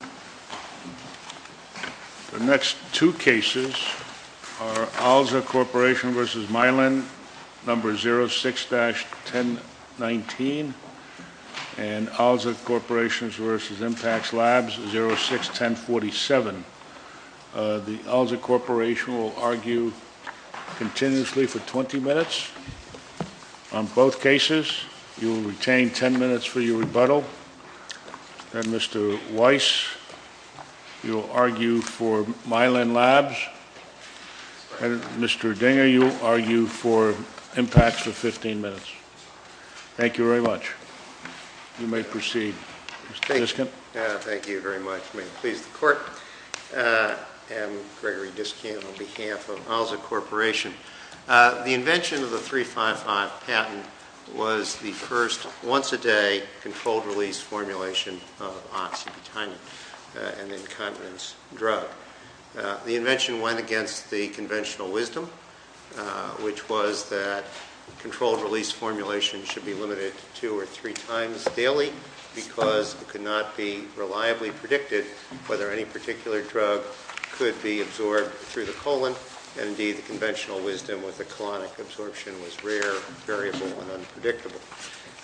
The next two cases are Alza Corp v. Mylan, No. 06-1019 and Alza Corp v. Impax Labs, 06-1047. The Alza Corp will argue continuously for 20 minutes on both cases. You will retain 10 minutes for your rebuttal. And Mr. Weiss, you'll argue for Mylan Labs. And Mr. Dinger, you'll argue for Impax for 15 minutes. Thank you very much. You may proceed, Mr. Niskant. Thank you very much. May it please the Court, I'm Gregory Niskant on behalf of Alza Corporation. The invention of the 3-5-0 patent was the first once-a-day controlled-release formulation of Oxybutynin, an incontinence drug. The invention went against the conventional wisdom, which was that controlled-release formulation should be limited to two or three times daily because it could not be reliably predicted whether any particular drug could be absorbed through the colon. And indeed, the conventional wisdom with the colonic absorption was rare, variable, and unpredictable.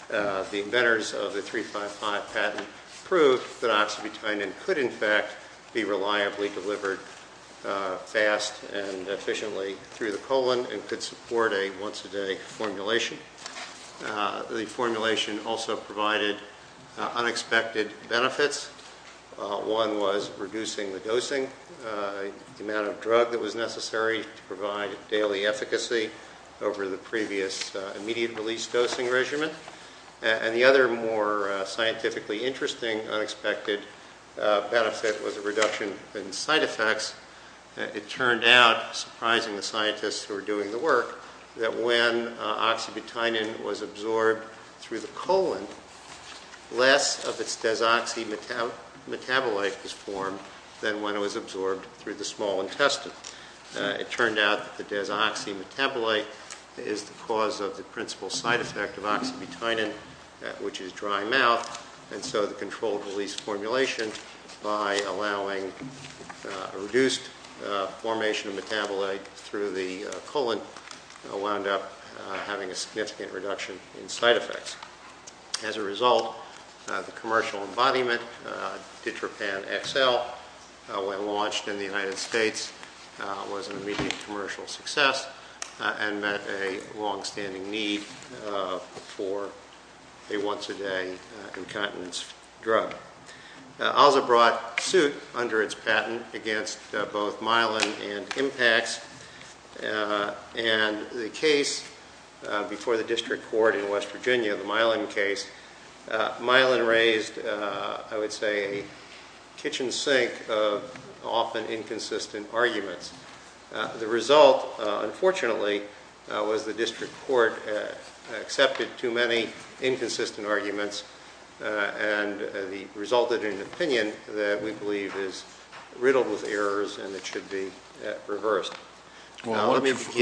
The inventors of the 3-5-5 patent proved that Oxybutynin could, in fact, be reliably delivered fast and efficiently through the colon and could support a once-a-day formulation. The formulation also provided unexpected benefits. One was reducing the dosing, the amount of drug that was necessary to provide daily efficacy over the previous immediate-release dosing regimen. And the other, more scientifically interesting, unexpected benefit was a reduction in side effects. It turned out, surprising the scientists who were doing the work, that when Oxybutynin was absorbed through the colon, less of its side effect was when it was absorbed through the small intestine. It turned out the desoxymetabolite is the cause of the principal side effect of Oxybutynin, which is dry mouth, and so the controlled-release formulation, by allowing reduced formation of metabolite through the colon, wound up having a significant reduction in side effects. As a result, the commercial embodiment, Ditropan XL, when launched in the United States, was an immediate commercial success and met a long-standing need for a once-a-day incontinence drug. ALSA brought suit under its patent against both Myelin and Impax, and the case before the district court in West Virginia, the Myelin case, Myelin raised, I would say, a kitchen sink of often inconsistent arguments. The result, unfortunately, was the district court accepted too many inconsistent arguments and resulted in an opinion that we believe is riddled with errors and it should be reversed. Well, why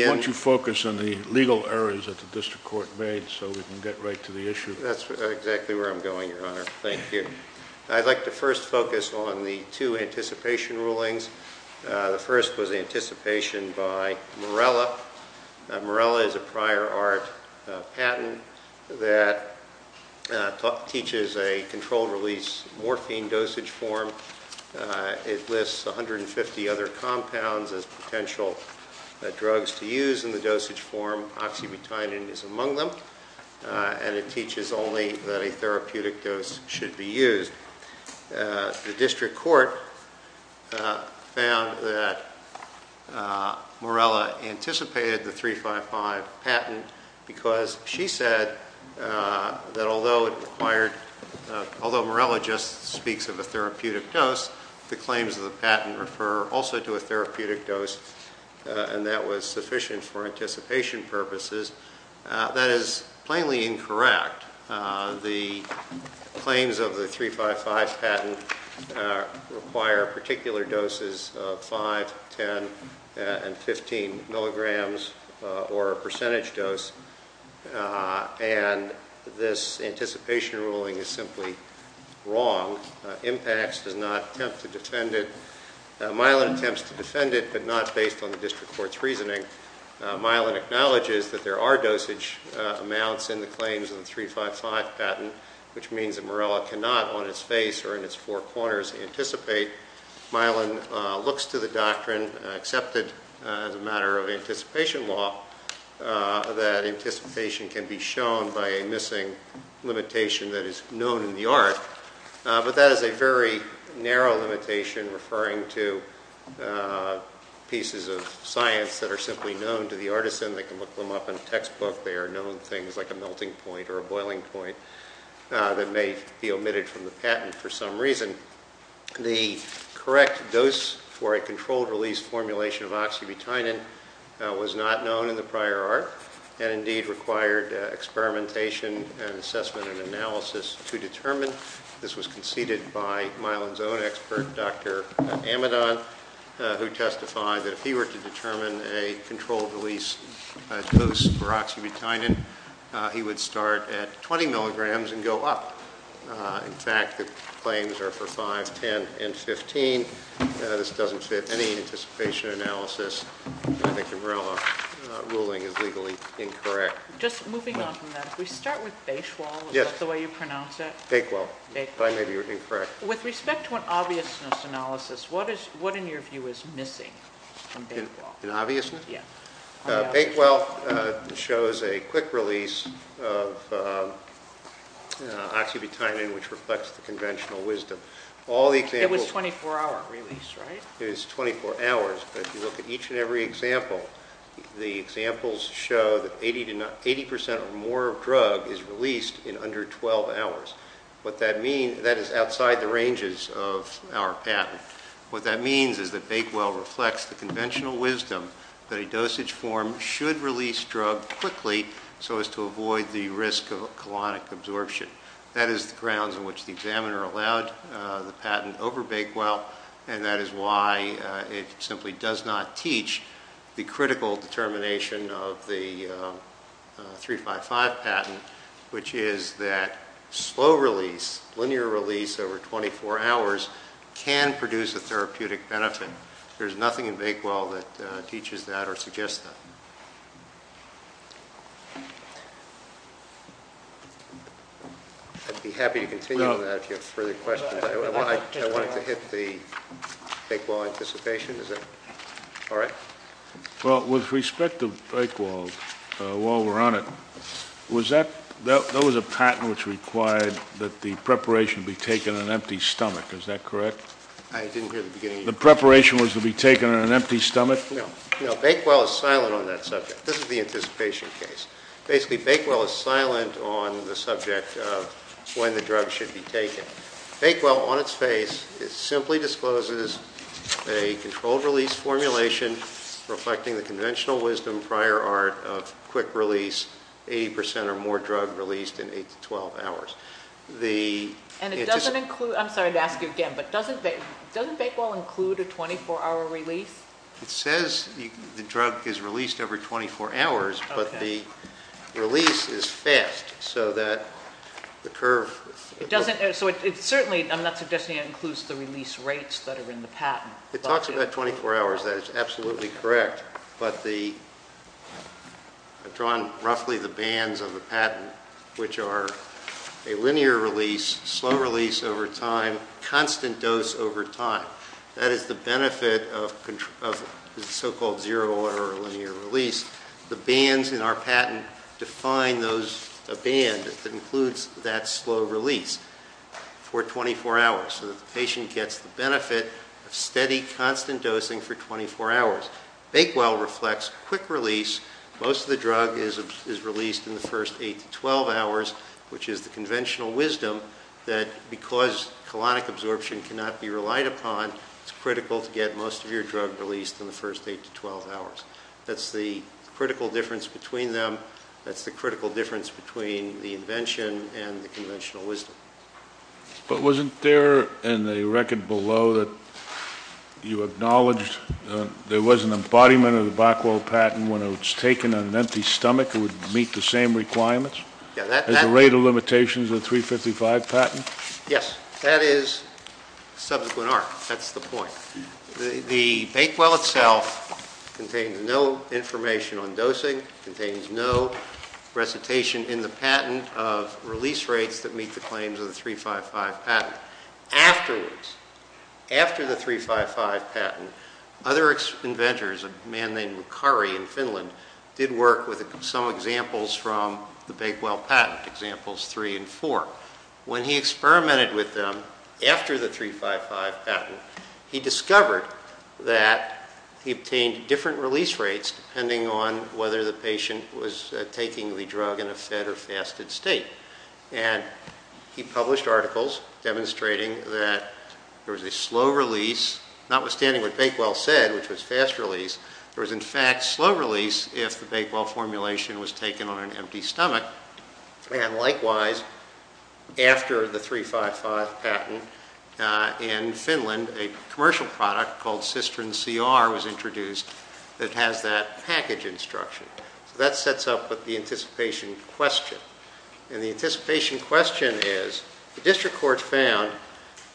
don't you focus on the legal errors that the district court made so we can get right to the issue. That's exactly where I'm going, Your Honor. Thank you. I'd like to first focus on the two anticipation rulings. The first was anticipation by Morella. Morella is a prior art patent that teaches a controlled-release morphine dosage form. It lists 150 other compounds as potential drugs to use in the dosage form. Oxybutynin is among them, and it teaches only that a therapeutic dose should be used. The district court found that Morella anticipated the 355 patent because she said that although Morella just speaks of a therapeutic dose, the claims of the patent refer also to a therapeutic dose, and that was sufficient for anticipation purposes. That is plainly incorrect. The claims of the 355 patent require particular doses of 5, 10, and 15 milligrams or a percentage dose, and this anticipation ruling is simply wrong. Impacts does not attempt to defend it. Myelin attempts to defend it, but not based on the district court's reasoning. Myelin acknowledges that there are dosage amounts in the claims of the 355 patent, which means that Morella cannot, on its face or in its four corners, anticipate. Myelin looks to the doctrine, accepted as a matter of anticipation law, that anticipation can be shown by a missing limitation that is known in the art, but that is a very narrow limitation referring to pieces of science that are simply known to the artisan. They can look them up in a textbook. They are known things like a melting point or a boiling point that may be omitted from the patent for some reason. The correct dose for that is not known in the prior art, and indeed required experimentation and assessment and analysis to determine. This was conceded by Myelin's own expert, Dr. Amidon, who testified that if he were to determine a controlled release dose for oxybutynin, he would start at 20 milligrams and go up. In fact, the claims are for 5, 10, and 15. This doesn't fit any anticipation analysis. I think the Morella ruling is legally incorrect. Just moving on from that, if we start with Bakewell, is that the way you pronounce it? Bakewell. But I may be incorrect. With respect to an obviousness analysis, what in your view is missing from Bakewell? In obviousness? Yes. Bakewell shows a quick release of oxybutynin, which reflects the conventional wisdom. All it takes is 24 hours, but if you look at each and every example, the examples show that 80% or more of drug is released in under 12 hours. What that means, that is outside the ranges of our patent. What that means is that Bakewell reflects the conventional wisdom that a dosage form should release drug quickly so as to avoid the risk of colonic absorption. That is the grounds on which the examiner allowed the patent over Bakewell, and that is why it simply does not teach the critical determination of the 355 patent, which is that slow release, linear release over 24 hours, can produce a therapeutic benefit. There's nothing in Bakewell that teaches that or suggests that. I'd be happy to continue with that if you have further questions. I wanted to hit the Bakewell anticipation. Is that all right? Well, with respect to Bakewell, while we're on it, there was a patent which required that the preparation be taken on an empty stomach. Is that correct? I didn't hear the beginning of your question. The preparation was to be taken on an empty stomach? No. Bakewell is silent on that subject. This is the anticipation case. Basically, Bakewell is silent on the subject of when the drug should be taken. Bakewell, on its face, simply discloses a controlled release formulation reflecting the conventional wisdom, prior art, of quick release, 80% or more drug released in 8 to 12 hours. I'm sorry to ask you again, but doesn't Bakewell include a 24-hour release? It says the drug is released every 24 hours, but the release is fast, so that the curve... It doesn't, so it certainly, I'm not suggesting it includes the release rates that are in the patent. It talks about 24 hours, that is absolutely correct, but the... I've drawn roughly the bands of the patent, which are a linear release, slow release over time, constant dose over time. That is the benefit of the so-called zero-order linear release. The bands in our patent define a band that includes that slow release for 24 hours, so that the patient gets the benefit of steady, constant dosing for 24 hours. Bakewell reflects quick release. Most of the drug is released in the first 8 to 12 hours, which is the conventional wisdom that because colonic absorption cannot be relied upon, it's critical to get most of your drug released in the first 8 to 12 hours. That's the critical difference between them. That's the critical difference between the invention and the conventional wisdom. But wasn't there in the record below that you acknowledged there was an embodiment of the Bakewell patent when it was taken on an empty stomach, it would meet the same requirements? Is the rate of limitations of the 355 patent? Yes. That is subsequent art. That's the point. The Bakewell itself contains no information on dosing, contains no recitation in the patent of release rates that meet the claims of the 355 patent. Afterwards, after the 355 patent, other inventors, a man named McCurry in Finland, did work with some examples from the Bakewell patent, examples 3 and 4. When he experimented with them after the 355 patent, he discovered that he obtained different release rates depending on whether the patient was taking the drug in a fed or fasted state. And he published articles demonstrating that there was a slow release, notwithstanding what would happen if the Bakewell formulation was taken on an empty stomach. And likewise, after the 355 patent, in Finland, a commercial product called Cistern CR was introduced that has that package instruction. So that sets up with the anticipation question. And the anticipation question is, the district court found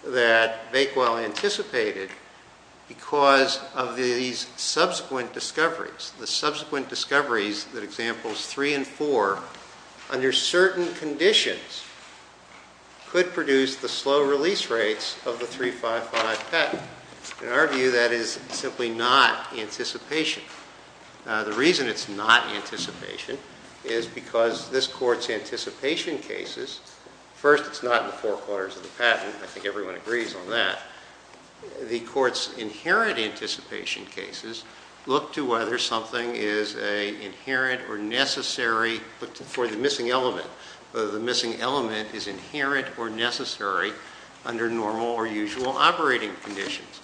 that Bakewell anticipated because of these subsequent discoveries. The subsequent discoveries that examples 3 and 4, under certain conditions, could produce the slow release rates of the 355 patent. In our view, that is simply not anticipation. The reason it's not anticipation is because this court's anticipation cases, first, it's not in the forequarters of the patent. Again, I think everyone agrees on that. The court's inherent anticipation cases look to whether something is an inherent or necessary, for the missing element, whether the missing element is inherent or necessary under normal or usual operating conditions.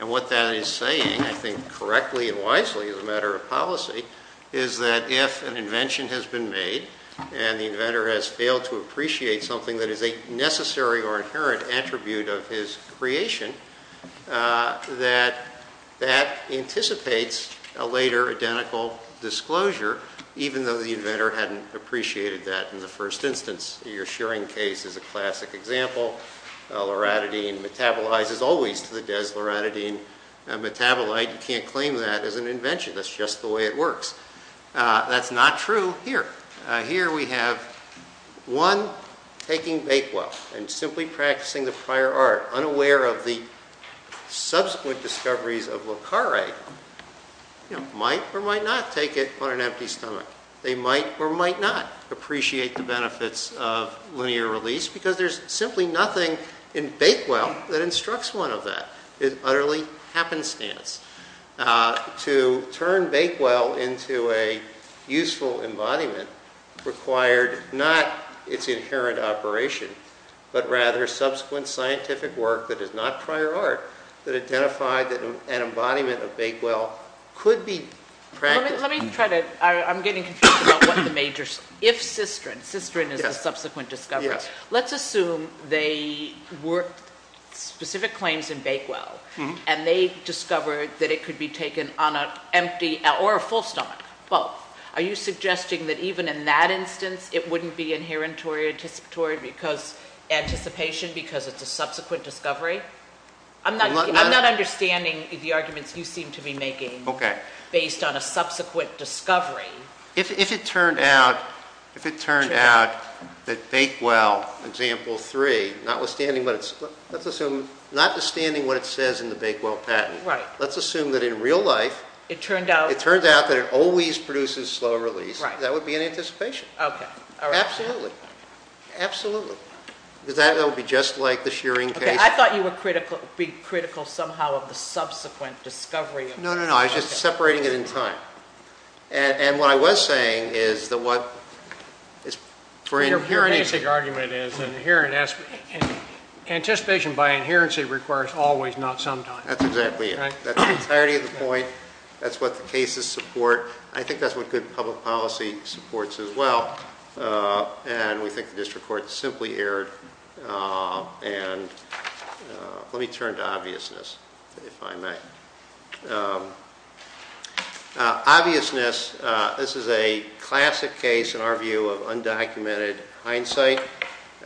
And what that is saying, I think correctly and wisely as a matter of policy, is that if an invention has been made and the inventor has failed to appreciate something that is a necessary or inherent attribute of his creation, that that anticipates a later identical disclosure, even though the inventor hadn't appreciated that in the first instance. Your sharing case is a classic example. Loratadine metabolizes always to the desloratadine metabolite. You can't claim that as an invention. That's just the way it works. That's not true here. Here we have one taking Bakewell and simply practicing the prior art, unaware of the subsequent discoveries of Locari, might or might not take it on an empty stomach. They might or might not appreciate the benefits of linear release because there's simply nothing in Bakewell that instructs one of that. It's utterly happenstance. To turn Bakewell into a useful embodiment required not its inherent operation, but rather subsequent scientific work that is not prior art, that identified that an embodiment of Bakewell could be practiced. Let me try to, I'm getting confused about what the major, if Cistern, Cistern is the subsequent discovery. Let's assume they worked specific claims in Bakewell and they discovered that it could be taken on an empty, or a full stomach, both. Are you suggesting that even in that instance it wouldn't be inherent or anticipatory because, anticipation because it's a subsequent discovery? I'm not understanding the arguments you seem to be making based on a subsequent discovery. If it turned out, if it turned out that Bakewell, example three, notwithstanding what it's, let's assume, notwithstanding what it says in the Bakewell patent, let's assume that in real life, it turns out that it always produces slow release, that would be an anticipation. Absolutely. Absolutely. Because that would be just like the Shearing case. I thought you were critical, being critical somehow of the subsequent discovery. No, no, no. I was just separating it in time. And what I was saying is that what, Your basic argument is an inherent, anticipation by inherency requires always, not sometimes. That's exactly it. That's the entirety of the point. That's what the cases support. I think that's what good public policy supports as well. And we think the district court simply erred. And let me turn to obviousness, if I may. Obviousness, this is a classic case in our view of undocumented hindsight.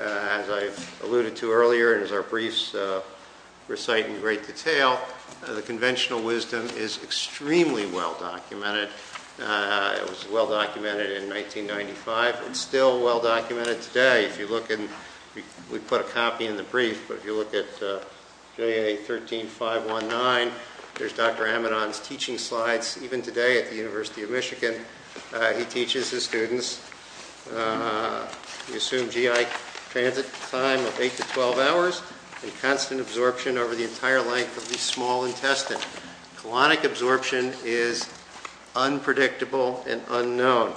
As I've alluded to earlier and as our briefs recite in great detail, the conventional wisdom is extremely well documented. It was well documented in 1995 and still well documented today. If you look in, we put a copy in the brief, but if you look at JA13519, there's Dr. Amidon's teaching slides, even today at the University of Michigan. He teaches his students. We assume GI transit time of 8 to 12 hours and constant absorption over the entire length of the small intestine. Colonic absorption is unpredictable and unknown.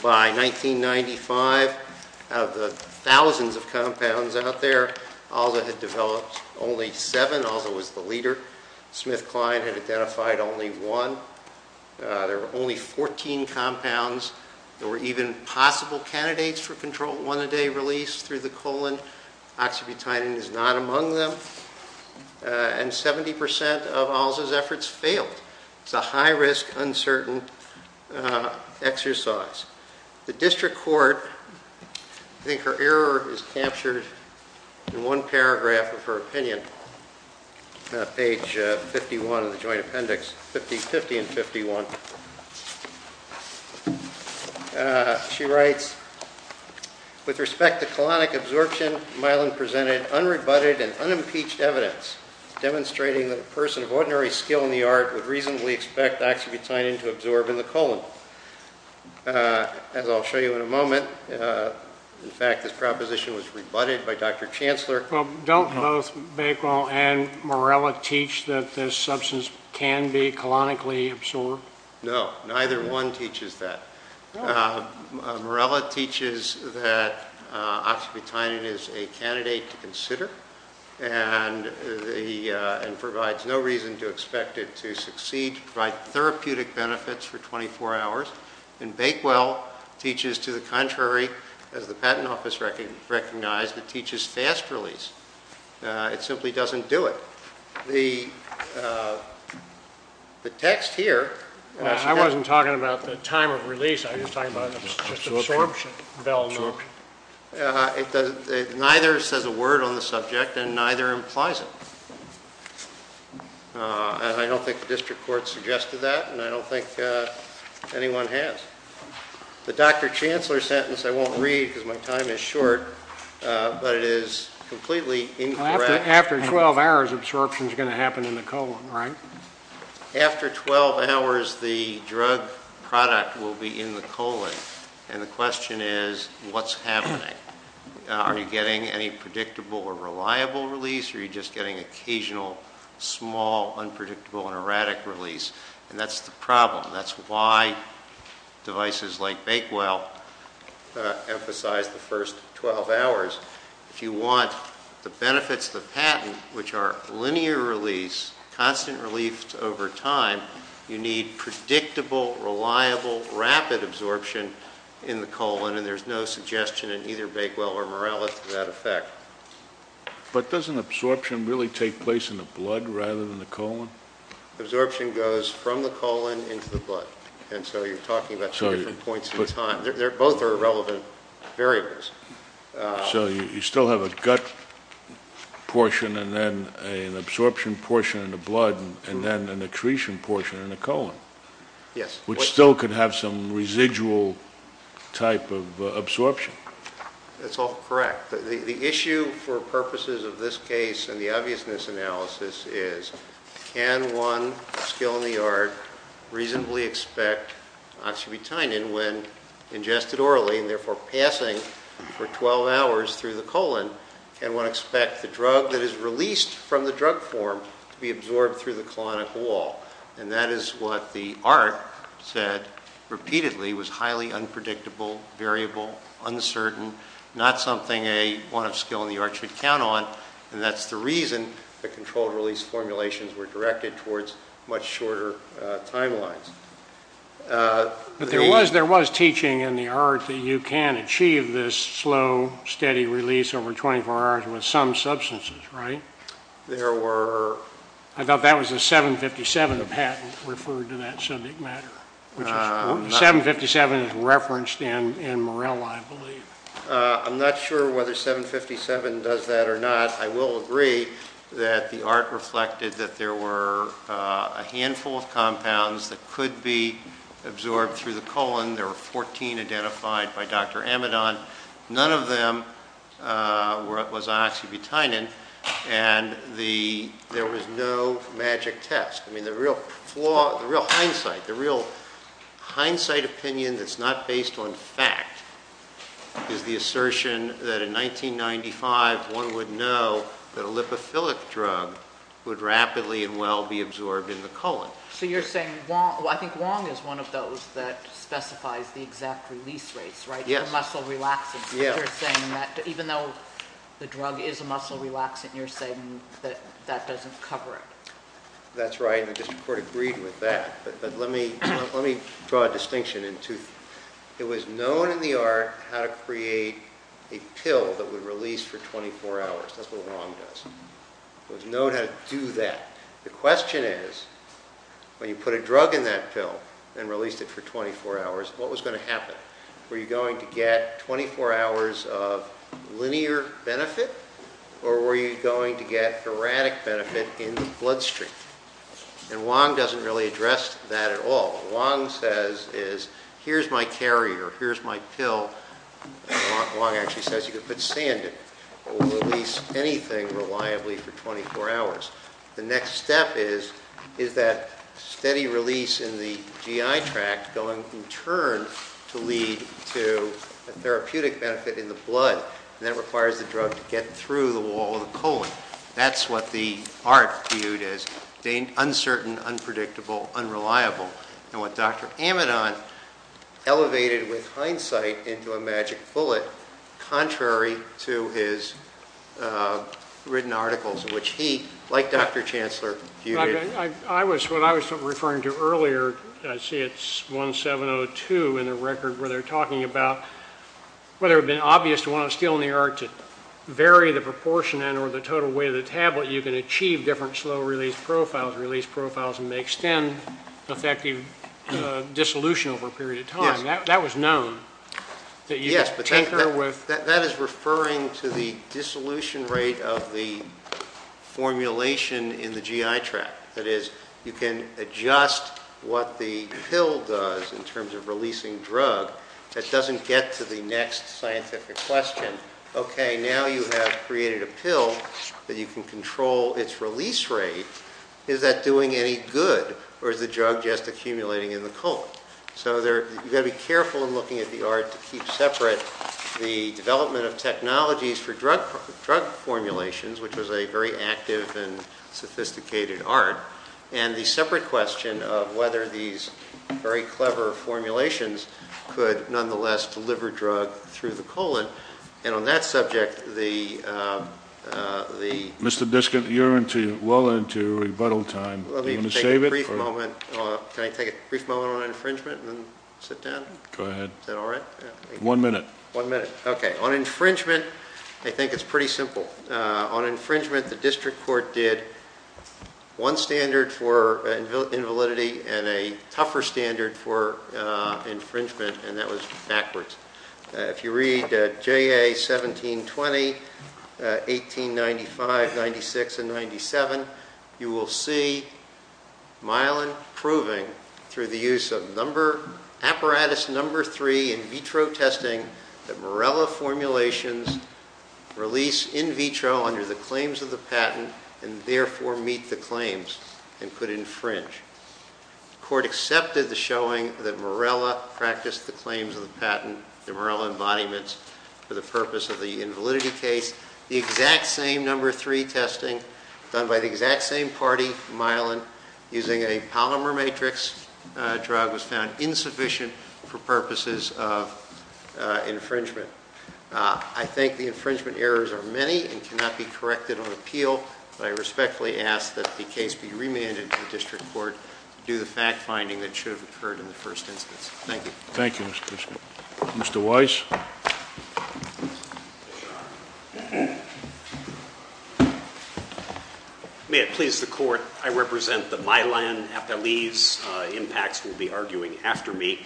By 1995, out of the thousands of compounds out there, ALSA had developed only seven. ALSA was the leader. Smith-Klein had identified only one. There were only 14 compounds. There were even possible candidates for control one-a-day release through the colon. Oxybutynin is not among them. And 70% of ALSA's efforts failed. It's a high-risk, uncertain exercise. The district court, I think her error is captured in one paragraph of her opinion, page 51 of the joint appendix, 50 and 51. She writes, With respect to colonic absorption, Amidon presented unrebutted and unimpeached evidence demonstrating that a person of ordinary skill in the art would reasonably expect oxybutynin to absorb in the colon. As I'll show you in a moment, in fact, this proposition was rebutted by Dr. Chancellor. Don't both Bakewell and Morella teach that this substance can be colonically absorbed? No, neither one teaches that. Morella teaches that oxybutynin is a candidate to consider and provides no reason to expect it to succeed, provide therapeutic benefits for 24 hours. And Bakewell teaches to the contrary. As the Patent Office recognized, it teaches fast release. It simply doesn't do it. The text here... I wasn't talking about the time of release. I was talking about absorption. Neither says a word on the subject, and neither implies it. I don't think the district court suggested that, and I don't think anyone has. The Dr. Chancellor sentence I won't read because my time is short, but it is completely incorrect. After 12 hours, absorption is going to happen in the colon, right? After 12 hours, the drug product will be in the colon, and the question is, what's happening? Are you getting any predictable or reliable release, or are you just getting occasional, small, unpredictable, and erratic release? And that's the problem. That's why devices like Bakewell emphasize the first 12 hours. If you want the benefits of the patent, which are linear release, constant relief over time, you need predictable, reliable, rapid absorption in the colon, and there's no suggestion in either Bakewell or Morales for that effect. But doesn't absorption really take place in the blood rather than the colon? Absorption goes from the colon into the blood, and so you're talking about two different points in time. Both are relevant variables. So you still have a gut portion and then an absorption portion in the blood and then an attrition portion in the colon, which still could have some residual type of absorption. That's all correct. The issue for purposes of this case and the obviousness analysis is, can one still in the yard reasonably expect oxybutynin when ingested orally and therefore passing for 12 hours through the colon? Can one expect the drug that is released from the drug form to be absorbed through the colonic wall? And that is what the ART said repeatedly, was highly unpredictable, variable, uncertain, not something a one of skill in the ART should count on, and that's the reason the controlled release formulations were directed towards much shorter timelines. But there was teaching in the ART that you can achieve this slow, steady release over 24 hours with some substances, right? There were... I thought that was a 757 patent referred to that subject matter. 757 is referenced in Morella, I believe. I'm not sure whether 757 does that or not. I will agree that the ART reflected that there were a handful of compounds that could be absorbed through the colon. There were 14 identified by Dr. Amidon. None of them was on oxybutynin, and there was no magic test. I mean, the real flaw, the real hindsight, the real hindsight opinion that's not based on fact is the assertion that in 1995 one would know that a lipophilic drug would rapidly and well be absorbed in the colon. So you're saying... I think Wong is one of those that specifies the exact release rates, right? The muscle relaxant. You're saying that even though the drug is a muscle relaxant, you're saying that that doesn't cover it. That's right, and the District Court agreed with that. But let me draw a distinction. It was known in the ART how to create a pill that would release for 24 hours. That's what Wong does. It was known how to do that. The question is when you put a drug in that pill and released it for 24 hours, what was going to happen? Were you going to get 24 hours of linear benefit or were you going to get erratic benefit in the bloodstream? And Wong doesn't really address that at all. What Wong says is here's my carrier, here's my pill. Wong actually says you could put sand in it or release anything reliably for 24 hours. The next step is that steady release in the GI tract going in turn to lead to a therapeutic benefit in the blood that requires the drug to get through the wall of the colon. That's what the ART viewed as uncertain, unpredictable, unreliable. And what Dr. Amidon elevated with hindsight into a magic bullet, contrary to his written articles in which he, like Dr. Chancellor, viewed it. What I was referring to earlier, I see it's 1702 in the record where they're talking about whether it would have been obvious to one of us still in the ART to vary the proportion and or the total weight of the tablet, you can achieve different slow release profiles and may extend effective dissolution over a period of time. That was known. Yes, but that is referring to the dissolution rate of the formulation in the GI tract. That is, you can adjust what the pill does in terms of releasing drug that doesn't get to the next scientific question. Okay, now you have created a pill that you can control its release rate. Is that doing any good or is the drug just accumulating in the colon? So you've got to be careful in looking at the ART to keep separate the development of technologies for drug formulations, which was a very active and sophisticated ART, and the separate question of whether these very clever formulations could nonetheless deliver drug through the colon, and on that subject the... Mr. Diskin, you're well into rebuttal time. Let me take a brief moment. Can I take a brief moment on infringement and then sit down? Go ahead. Is that all right? One minute. One minute. Okay, on infringement I think it's pretty simple. On infringement the district court did one standard for invalidity and a tougher standard for infringement, and that was backwards. If you read JA 1720, 1895, 96, and 97, you will see Milan proving through the use of apparatus number three in vitro testing that Morella formulations release in vitro under the claims of the patent and therefore meet the claims and put it in fringe. The court accepted the showing that Morella practiced the claims of the patent, the Morella embodiments, for the purpose of the invalidity case. The exact same number three testing done by the exact same party, Milan, using a polymer matrix drug was found insufficient for purposes of infringement. I think the infringement errors are many and cannot be corrected on appeal, but I respectfully ask that the case be remanded to the district court to do the fact-finding that should have occurred in the first instance. Thank you. Thank you, Mr. Krishnan. Mr. Weiss? May it please the court, I represent the Milan, and I believe impacts will be arguing after me.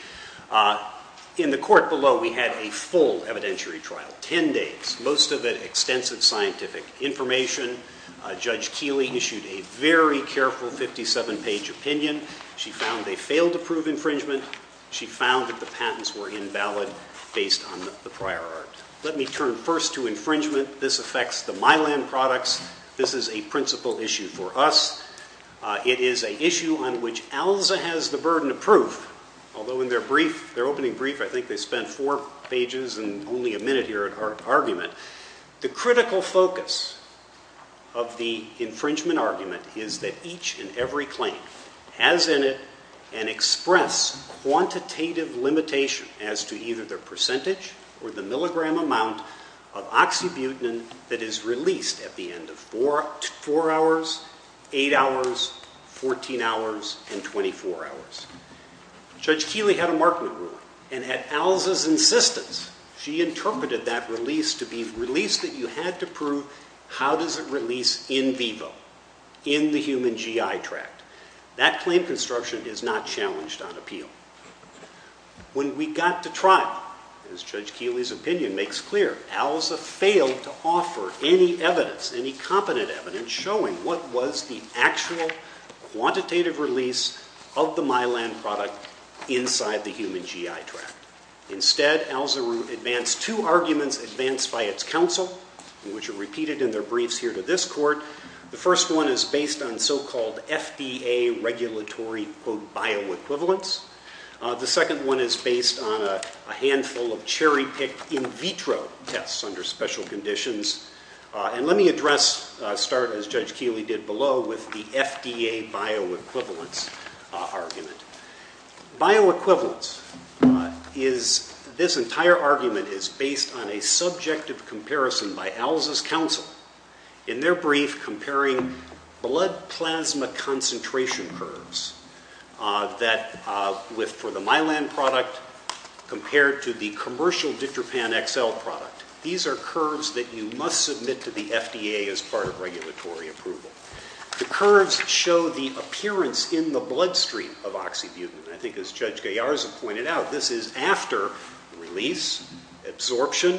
In the court below, we had a full evidentiary trial, ten days, most of it extensive scientific information. Judge Keeley issued a very careful 57-page opinion. She found they failed to prove infringement. She found that the patents were invalid based on the prior art. Let me turn first to infringement. This affects the Milan products. This is a principal issue for us. It is an issue on which ELSA has the burden of proof, although in their brief, their opening brief, I think they spent four pages and only a minute here at argument. The critical focus of the infringement argument is that each and every claim has in it an express quantitative limitation as to either their percentage or the milligram amount of oxybutynin that is released at the end of four hours, eight hours, 14 hours, and 24 hours. Judge Keeley had a marking ruler, and at ELSA's insistence, she interpreted that release to be a release that you had to prove how does it release in vivo, in the human GI tract. That claim construction is not challenged on appeal. When we got to trial, as Judge Keeley's opinion makes clear, ELSA failed to offer any evidence, any competent evidence, showing what was the actual quantitative release of the Milan product inside the human GI tract. Instead, ELSA advanced two arguments advanced by its counsel, which are repeated in their briefs here to this court. The first one is based on so-called FDA regulatory, quote, bioequivalence. The second one is based on a handful of cherry-picked in vitro tests under special conditions. And let me address, start, as Judge Keeley did below, with the FDA bioequivalence argument. Bioequivalence is this entire argument is based on a subjective comparison by ELSA's counsel in their brief comparing blood plasma concentration curves that for the Milan product compared to the commercial Ditropan XL product. These are curves that you must submit to the FDA as part of regulatory approval. The curves show the appearance in the bloodstream of oxybutynin. I think as Judge Gallarza pointed out, this is after release, absorption,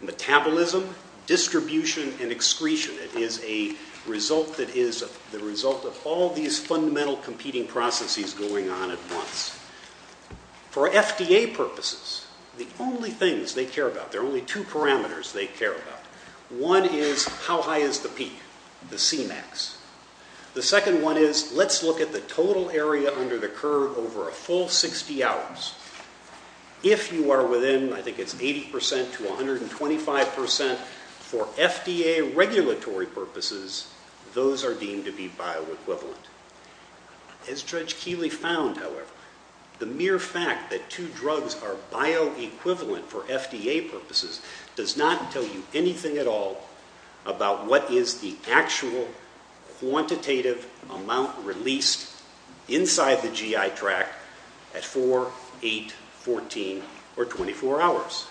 metabolism, distribution, and excretion. It is a result that is the result of all these fundamental competing processes going on at once. For FDA purposes, the only things they care about, there are only two parameters they care about. One is how high is the peak, the Cmax. The second one is let's look at the total area under the curve over a full 60 hours. If you are within, I think it's 80% to 125% for FDA regulatory purposes, those are deemed to be bioequivalent. As Judge Keeley found, however, the mere fact that two drugs are bioequivalent for FDA purposes does not tell you anything at all about what is the actual quantitative amount released inside the GI tract at 4, 8, 14, or 24 hours.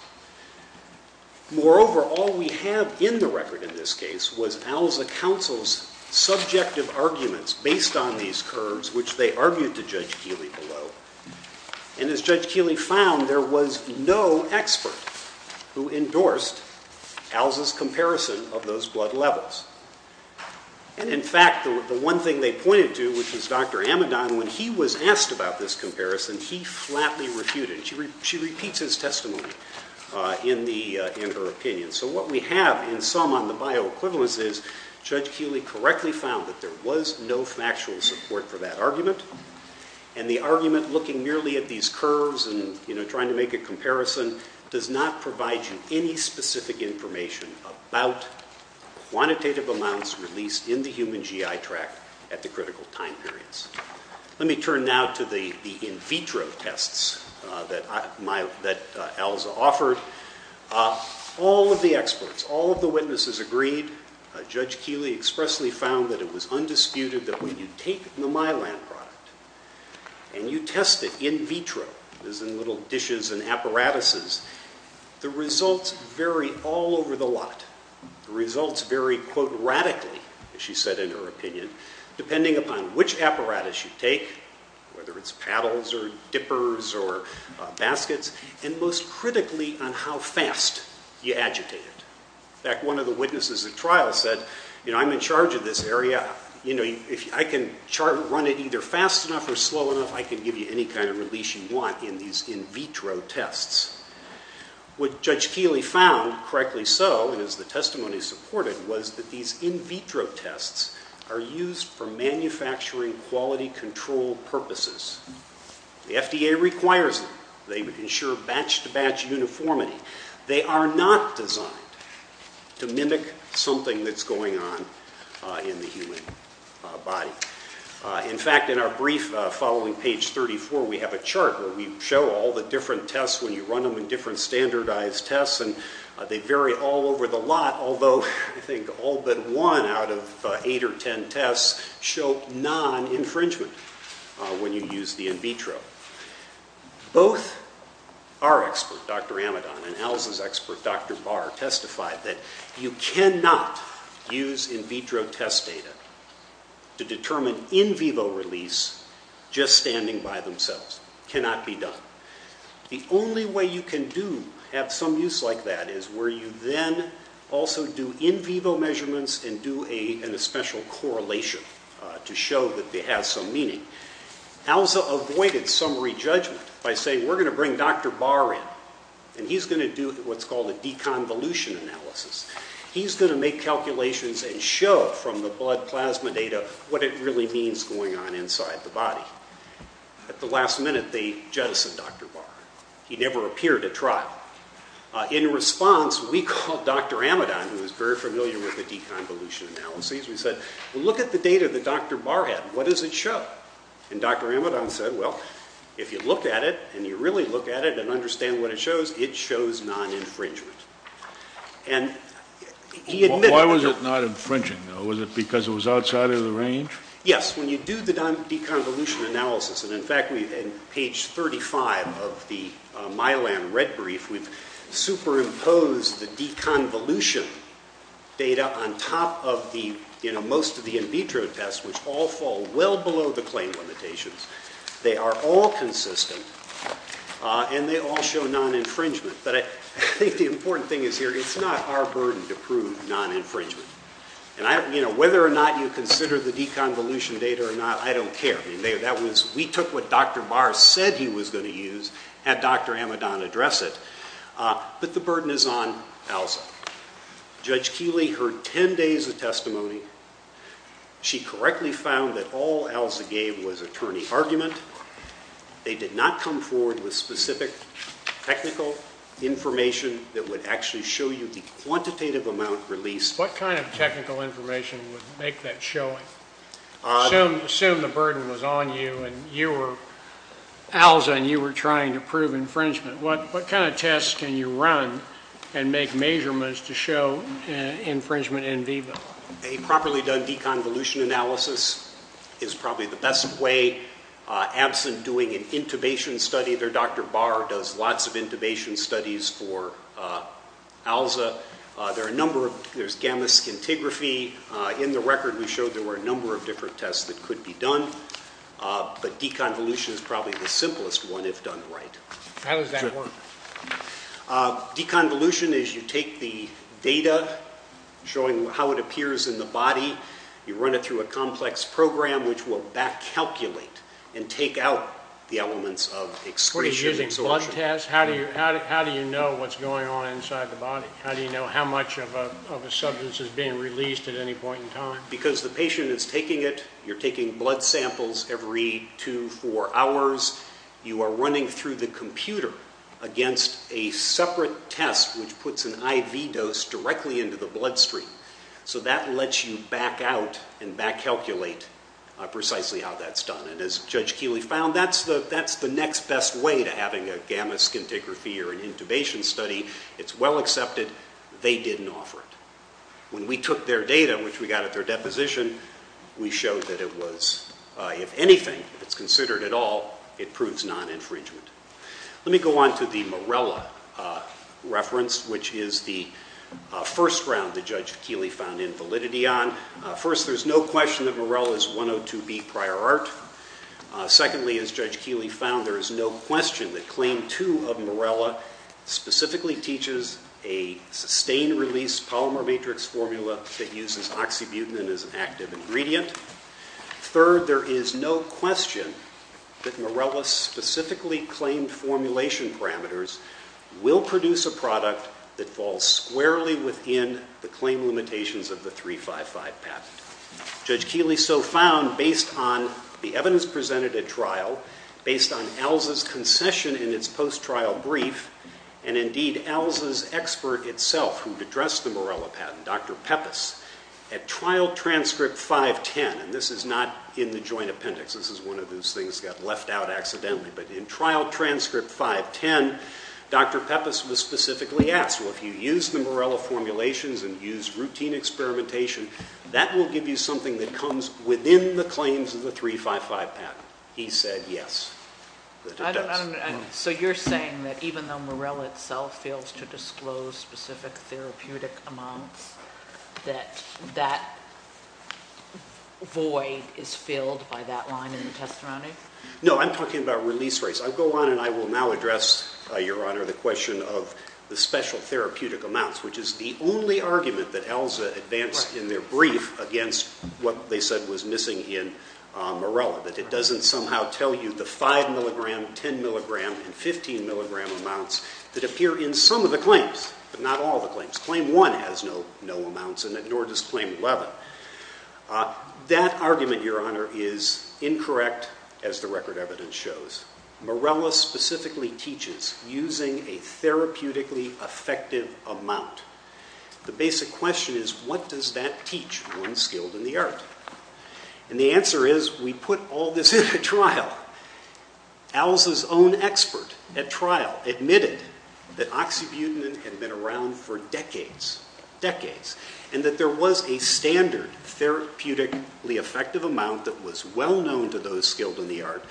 Moreover, all we have in the record in this case was ALSA counsel's subjective arguments based on these curves, which they argued to Judge Keeley below. And as Judge Keeley found, there was no expert who endorsed ALSA's comparison of those blood levels. And in fact, the one thing they pointed to, which was Dr. Amidon, when he was asked about this comparison, he flatly refuted it. She repeats his testimony in her opinion. So what we have in sum on the bioequivalence is Judge Keeley correctly found that there was no factual support for that argument, and the argument looking merely at these curves and trying to make a comparison does not provide you any specific information about quantitative amounts released in the human GI tract at the critical time periods. Let me turn now to the in vitro tests that ALSA offered. All of the experts, all of the witnesses agreed. Judge Keeley expressly found that it was undisputed that when you take the Mylan product and you test it in vitro, as in little dishes and apparatuses, the results vary all over the lot. The results vary, quote, radically, as she said in her opinion, depending upon which apparatus you take, whether it's paddles or dippers or baskets, and most critically on how fast you agitate it. In fact, one of the witnesses at trial said, you know, I'm in charge of this area. You know, I can run it either fast enough or slow enough. I can give you any kind of release you want in these in vitro tests. What Judge Keeley found, correctly so, and as the testimony supported, was that these in vitro tests are used for manufacturing quality control purposes. The FDA requires them. They ensure batch-to-batch uniformity. They are not designed to mimic something that's going on in the human body. In fact, in our brief following page 34, we have a chart where we show all the different tests when you run them in different standardized tests, and they vary all over the lot, although I think all but one out of eight or ten tests show non-infringement when you use the in vitro. Both our expert, Dr. Amidon, and ALS's expert, Dr. Barr, have testified that you cannot use in vitro test data to determine in vivo release just standing by themselves. It cannot be done. The only way you can do, have some use like that, is where you then also do in vivo measurements and do a special correlation to show that it has some meaning. ALSA avoided summary judgment by saying, we're going to bring Dr. Barr in, and he's going to do what's called a deconvolution analysis. He's going to make calculations and show from the blood plasma data what it really means going on inside the body. At the last minute, they jettisoned Dr. Barr. He never appeared at trial. In response, we called Dr. Amidon, who was very familiar with the deconvolution analysis. We said, well, look at the data that Dr. Barr had. What does it show? And Dr. Amidon said, well, if you look at it, and you really look at it and understand what it shows, it shows non-infringement. Why was it not infringing, though? Was it because it was outside of the range? Yes. When you do the deconvolution analysis, and, in fact, on page 35 of the Milan red brief, we've superimposed the deconvolution data on top of most of the in vitro tests, which all fall well below the claim limitations. They are all consistent, and they all show non-infringement. But I think the important thing is here, it's not our burden to prove non-infringement. Whether or not you consider the deconvolution data or not, I don't care. We took what Dr. Barr said he was going to use, had Dr. Amidon address it, but the burden is on ELSA. Judge Keeley heard 10 days of testimony. She correctly found that all ELSA gave was attorney argument. They did not come forward with specific technical information that would actually show you the quantitative amount released. What kind of technical information would make that showing? Assume the burden was on you and you were ELSA and you were trying to prove infringement. What kind of tests can you run and make measurements to show infringement in vivo? A properly done deconvolution analysis is probably the best way. Absent doing an intubation study, Dr. Barr does lots of intubation studies for ELSA. There's gamma scintigraphy. In the record, we showed there were a number of different tests that could be done. But deconvolution is probably the simplest one, if done right. How does that work? Deconvolution is you take the data showing how it appears in the body. You run it through a complex program, which will back-calculate and take out the elements of excretion and absorption. Are you using blood tests? How do you know what's going on inside the body? How do you know how much of a substance is being released at any point in time? Because the patient is taking it. You're taking blood samples every 2, 4 hours. You are running through the computer against a separate test, which puts an IV dose directly into the bloodstream. So that lets you back out and back-calculate precisely how that's done. And as Judge Keeley found, that's the next best way to having a gamma scintigraphy or an intubation study. It's well accepted. They didn't offer it. When we took their data, which we got at their deposition, we showed that it was, if anything, if it's considered at all, it proves non-infringement. Let me go on to the Morella reference, which is the first round that Judge Keeley found invalidity on. First, there's no question that Morella is 102B prior art. Secondly, as Judge Keeley found, there is no question that Claim 2 of Morella specifically teaches a sustained release polymer matrix formula that uses oxybutynin as an active ingredient. Third, there is no question that Morella's specifically claimed formulation parameters will produce a product that falls squarely within the claim limitations of the 355 patent. Judge Keeley so found based on the evidence presented at trial, based on ELSA's concession in its post-trial brief, and indeed ELSA's expert itself who addressed the Morella patent, Dr Peppis, at trial transcript 510, and this is not in the joint appendix, this is one of those things that got left out accidentally, but in trial transcript 510, Dr Peppis was specifically asked, well, if you use the Morella formulations and use routine experimentation, that will give you something that comes within the claims of the 355 patent. He said yes, that it does. So you're saying that even though Morella itself fails to disclose specific therapeutic amounts, that that void is filled by that line in the testimony? No, I'm talking about release rates. I'll go on and I will now address, Your Honor, the question of the special therapeutic amounts, which is the only argument that ELSA advanced in their brief against what they said was missing in Morella, that it doesn't somehow tell you the 5 mg, 10 mg, and 15 mg amounts that appear in some of the claims, but not all the claims. Claim 1 has no amounts in it, nor does claim 11. That argument, Your Honor, is incorrect, as the record evidence shows. Morella specifically teaches using a therapeutically effective amount. The basic question is, what does that teach one skilled in the art? And the answer is, we put all this in at trial. ELSA's own expert at trial admitted that oxybutynin had been around for decades, decades, and that there was a standard therapeutically effective amount that was well known to those skilled in the art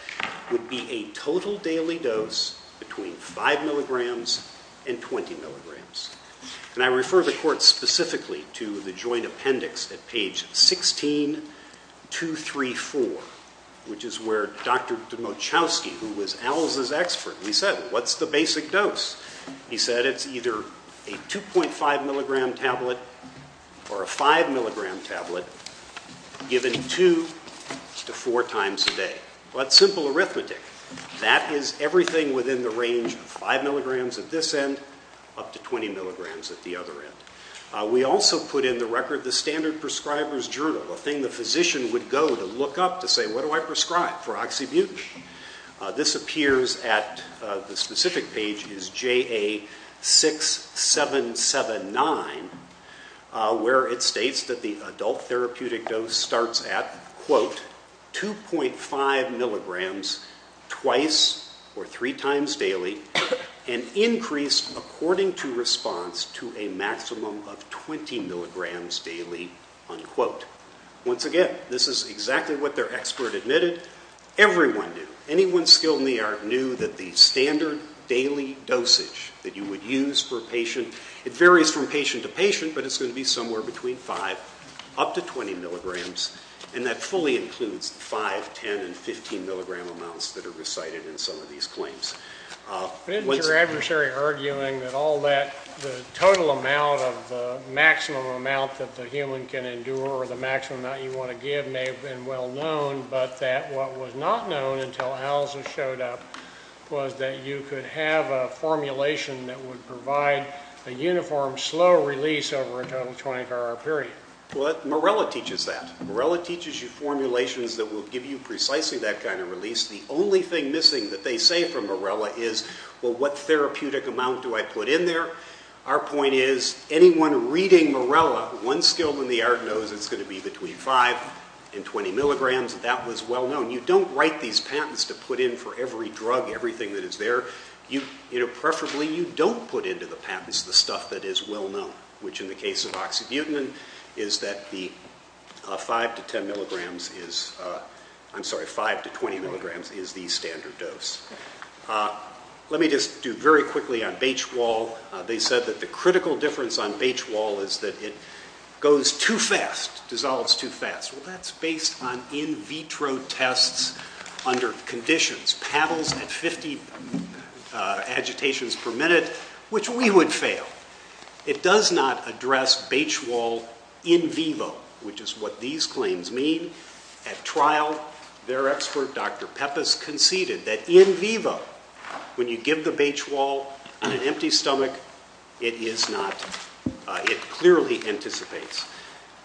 would be a total daily dose between 5 mg and 20 mg. And I refer the Court specifically to the joint appendix at page 16234, which is where Dr. Demochowski, who was ELSA's expert, he said, what's the basic dose? He said it's either a 2.5 mg tablet or a 5 mg tablet given 2 to 4 times a day. Well, that's simple arithmetic. That is everything within the range of 5 mg at this end up to 20 mg at the other end. We also put in the record the standard prescriber's journal, a thing the physician would go to look up to say, what do I prescribe for oxybutynin? This appears at the specific page is JA6779, where it states that the adult therapeutic dose starts at 2.5 mg twice or three times daily and increased according to response to a maximum of 20 mg daily. Once again, this is exactly what their expert admitted. Everyone knew, anyone skilled in the art knew that the standard daily dosage that you would use for a patient, it varies from patient to patient, but it's going to be somewhere between 5 up to 20 mg, and that fully includes 5, 10, and 15 mg amounts that are recited in some of these claims. Isn't your adversary arguing that all that, the total amount of the maximum amount that the human can endure or the maximum amount you want to give may have been well known, but that what was not known until Alza showed up was that you could have a formulation that would provide a uniform slow release over a total 24-hour period? Morella teaches that. Morella teaches you formulations that will give you precisely that kind of release. The only thing missing that they say from Morella is, well, what therapeutic amount do I put in there? Our point is, anyone reading Morella, one skilled in the art knows it's going to be between 5 and 20 mg. That was well known. You don't write these patents to put in for every drug, everything that is there. Preferably, you don't put into the patents the stuff that is well known, which in the case of oxybutynin is that the 5 to 10 mg is, I'm sorry, 5 to 20 mg is the standard dose. Let me just do very quickly on Baych-Wall. They said that the critical difference on Baych-Wall is that it goes too fast, dissolves too fast. Well, that's based on in vitro tests under conditions, paddles at 50 agitations per minute, which we would fail. It does not address Baych-Wall in vivo, which is what these claims mean. At trial, their expert, Dr. Peppis, conceded that in vivo, when you give the Baych-Wall on an empty stomach, it clearly anticipates.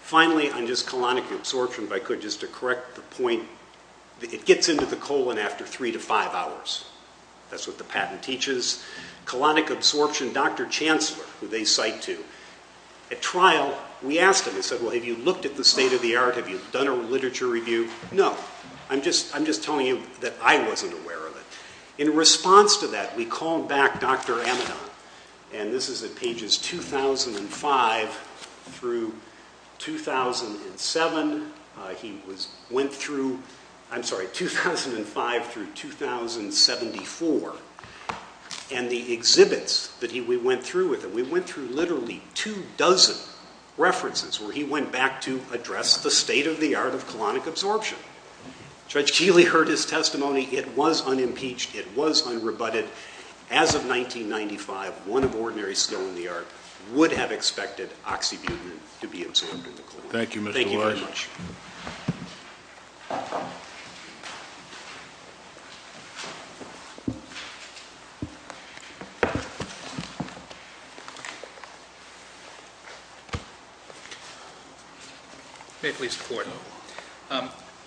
Finally, on just colonic absorption, if I could just to correct the point, it gets into the colon after 3 to 5 hours. That's what the patent teaches. Colonic absorption, Dr. Chancellor, who they cite to, at trial, we asked him, we said, well, have you looked at the state of the art? Have you done a literature review? No. I'm just telling you that I wasn't aware of it. In response to that, we called back Dr. Amidon, and this is at pages 2005 through 2007. He went through 2005 through 2074, and the exhibits that we went through with him, we went through literally two dozen references where he went back to address the state of the art of colonic absorption. Judge Keeley heard his testimony. It was unimpeached. It was unrebutted. As of 1995, one of ordinary skill in the art would have expected oxybutynin to be absorbed in the colon. Thank you, Mr. Wise. Thank you very much. May I please report?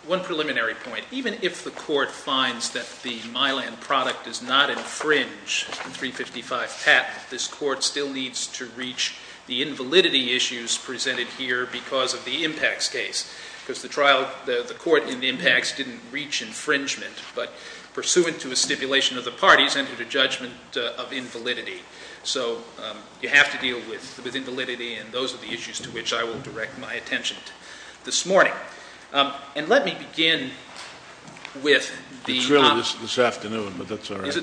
One preliminary point. Even if the court finds that the Mylan product does not infringe the 355 patent, this court still needs to reach the invalidity issues presented here because of the impacts case. Because the court in the impacts didn't reach infringement, but pursuant to a stipulation of the parties, entered a judgment of invalidity. So you have to deal with invalidity, and those are the issues to which I will direct my attention this morning. And let me begin with the op- It's really this afternoon, but that's all right.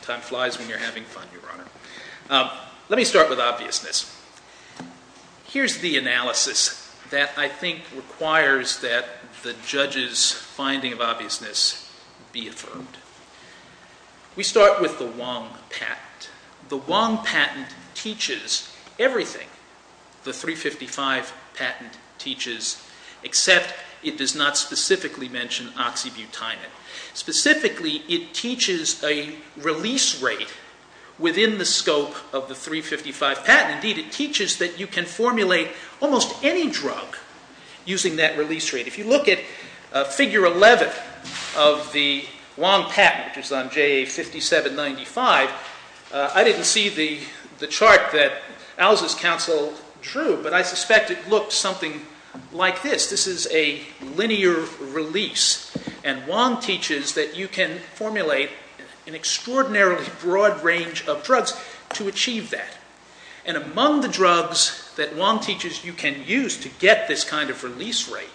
Time flies when you're having fun, Your Honor. Let me start with obviousness. Here's the analysis that I think requires that the judge's finding of obviousness be affirmed. We start with the Wong patent. The Wong patent teaches everything the 355 patent teaches, except it does not specifically mention oxybutynin. Specifically, it teaches a release rate within the scope of the 355 patent. Indeed, it teaches that you can formulate almost any drug using that release rate. If you look at figure 11 of the Wong patent, which is on JA5795, I didn't see the chart that Alza's counsel drew, but I suspect it looks something like this. This is a linear release. And Wong teaches that you can formulate an extraordinarily broad range of drugs to achieve that. And among the drugs that Wong teaches you can use to get this kind of release rate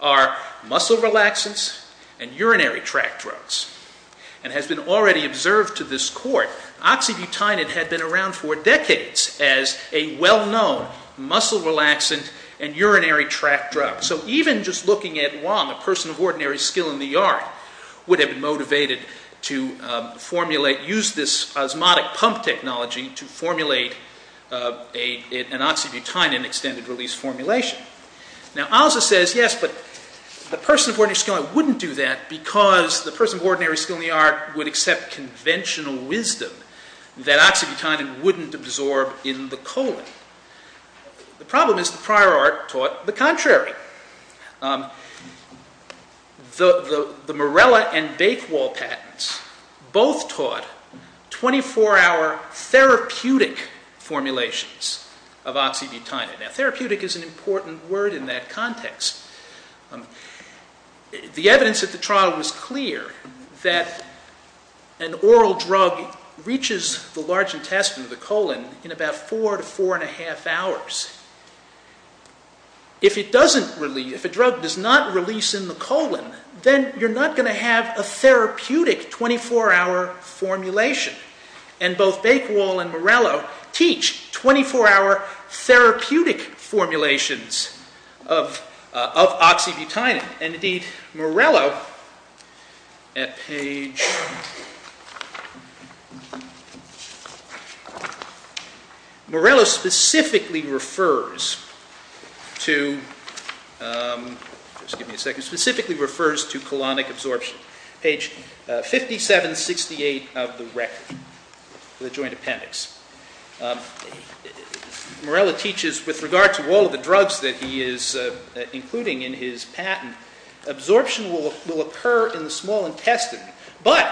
are muscle relaxants and urinary tract drugs. And it has been already observed to this court, oxybutynin had been around for decades as a well-known muscle relaxant and urinary tract drug. So even just looking at Wong, a person of ordinary skill in the art, would have been motivated to use this osmotic pump technology to formulate an oxybutynin extended release formulation. Now, Alza says, yes, but a person of ordinary skill in the art wouldn't do that because the person of ordinary skill in the art would accept conventional wisdom that oxybutynin wouldn't absorb in the colon. The problem is the prior art taught the contrary. The Morella and Bakewall patents both taught 24-hour therapeutic formulations of oxybutynin. Now, therapeutic is an important word in that context. The evidence at the trial was clear that an oral drug reaches the large intestine of the colon in about four to four and a half hours. If a drug does not release in the colon, then you're not going to have a therapeutic 24-hour formulation. And both Bakewall and Morella teach 24-hour therapeutic formulations of oxybutynin. And, indeed, Morella specifically refers to colonic absorption. Page 5768 of the record of the joint appendix. Morella teaches with regard to all of the drugs that he is including in his patent, absorption will occur in the small intestine. But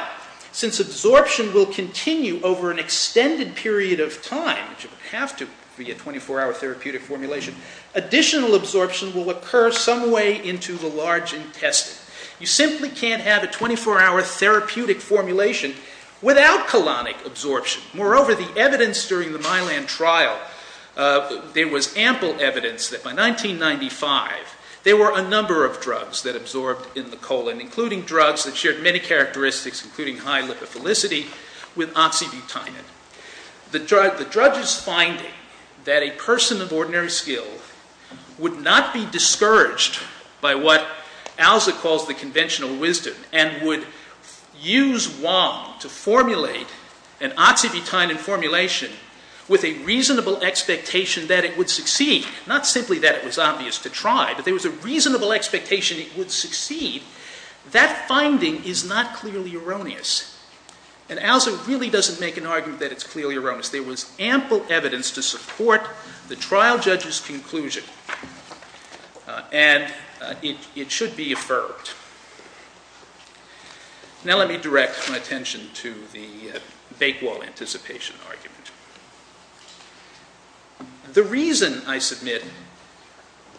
since absorption will continue over an extended period of time, which it would have to be a 24-hour therapeutic formulation, additional absorption will occur some way into the large intestine. You simply can't have a 24-hour therapeutic formulation without colonic absorption. Moreover, the evidence during the Milan trial, there was ample evidence that by 1995, there were a number of drugs that absorbed in the colon, including drugs that shared many characteristics, including high lipophilicity, with oxybutynin. The judge's finding that a person of ordinary skill would not be discouraged by what Alza calls the conventional wisdom and would use Wong to formulate an oxybutynin formulation with a reasonable expectation that it would succeed, not simply that it was obvious to try, but there was a reasonable expectation it would succeed, that finding is not clearly erroneous. And Alza really doesn't make an argument that it's clearly erroneous. There was ample evidence to support the trial judge's conclusion. And it should be affirmed. Now let me direct my attention to the Bakewell anticipation argument. The reason, I submit,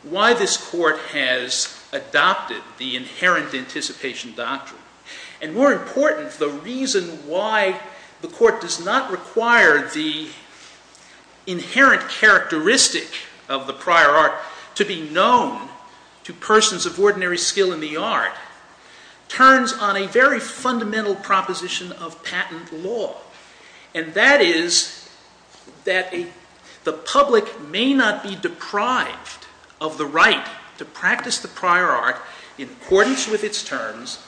why this court has adopted the inherent anticipation doctrine, and more important, the reason why the court does not require the inherent characteristic of the prior art to be known to persons of ordinary skill in the art, turns on a very fundamental proposition of patent law. And that is that the public may not be deprived of the right to practice the prior art in accordance with its terms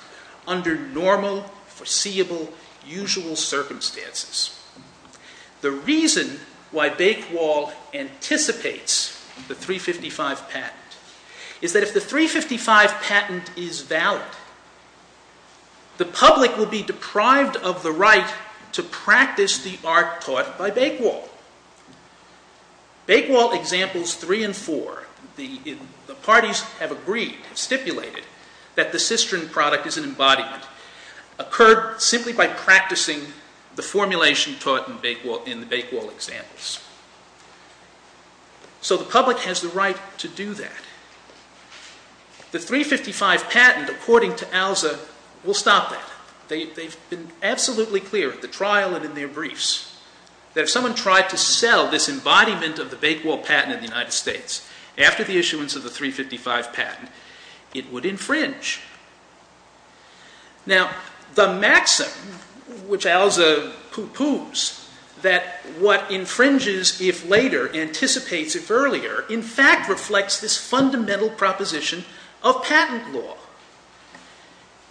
under normal, foreseeable, usual circumstances. The reason why Bakewell anticipates the 355 patent is that if the 355 patent is valid, the public will be deprived of the right to practice the art taught by Bakewell. Bakewell examples 3 and 4, the parties have agreed, have stipulated, that the cistern product is an embodiment occurred simply by practicing the formulation taught in the Bakewell examples. So the public has the right to do that. The 355 patent, according to Alza, will stop that. They've been absolutely clear at the trial and in their briefs that if someone tried to sell this embodiment of the Bakewell patent in the United States after the issuance of the 355 patent, it would infringe. Now, the maxim, which Alza pooh-poohs, that what infringes if later, anticipates if earlier, in fact reflects this fundamental proposition of patent law.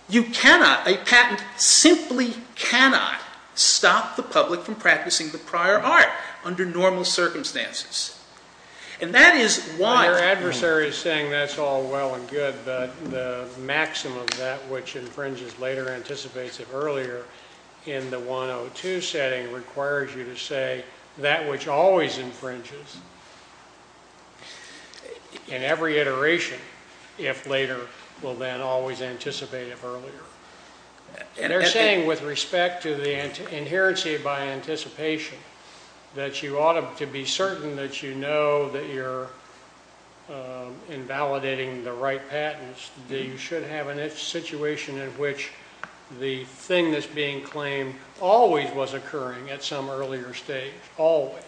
You cannot, a patent simply cannot, stop the public from practicing the prior art under normal circumstances. And that is why... Your adversary is saying that's all well and good, but the maxim of that which infringes later anticipates it earlier in the 102 setting requires you to say that which always infringes in every iteration, if later, will then always anticipate it earlier. They're saying with respect to the inherency by anticipation that you ought to be certain that you know that you're invalidating the right patents, that you should have a situation in which the thing that's being claimed always was occurring at some earlier stage, always.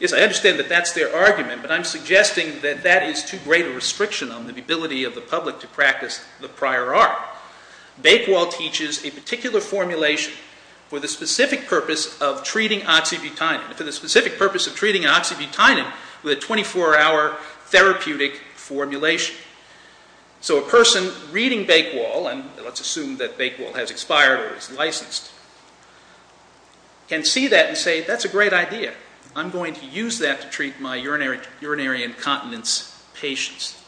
Yes, I understand that that's their argument, but I'm suggesting that that is too great a restriction on the ability of the public to practice the prior art. Bakewell teaches a particular formulation for the specific purpose of treating oxybutynin, for the specific purpose of treating oxybutynin with a 24-hour therapeutic formulation. So a person reading Bakewell, and let's assume that Bakewell has expired or is licensed, can see that and say that's a great idea. I'm going to use that to treat my urinary incontinence patients.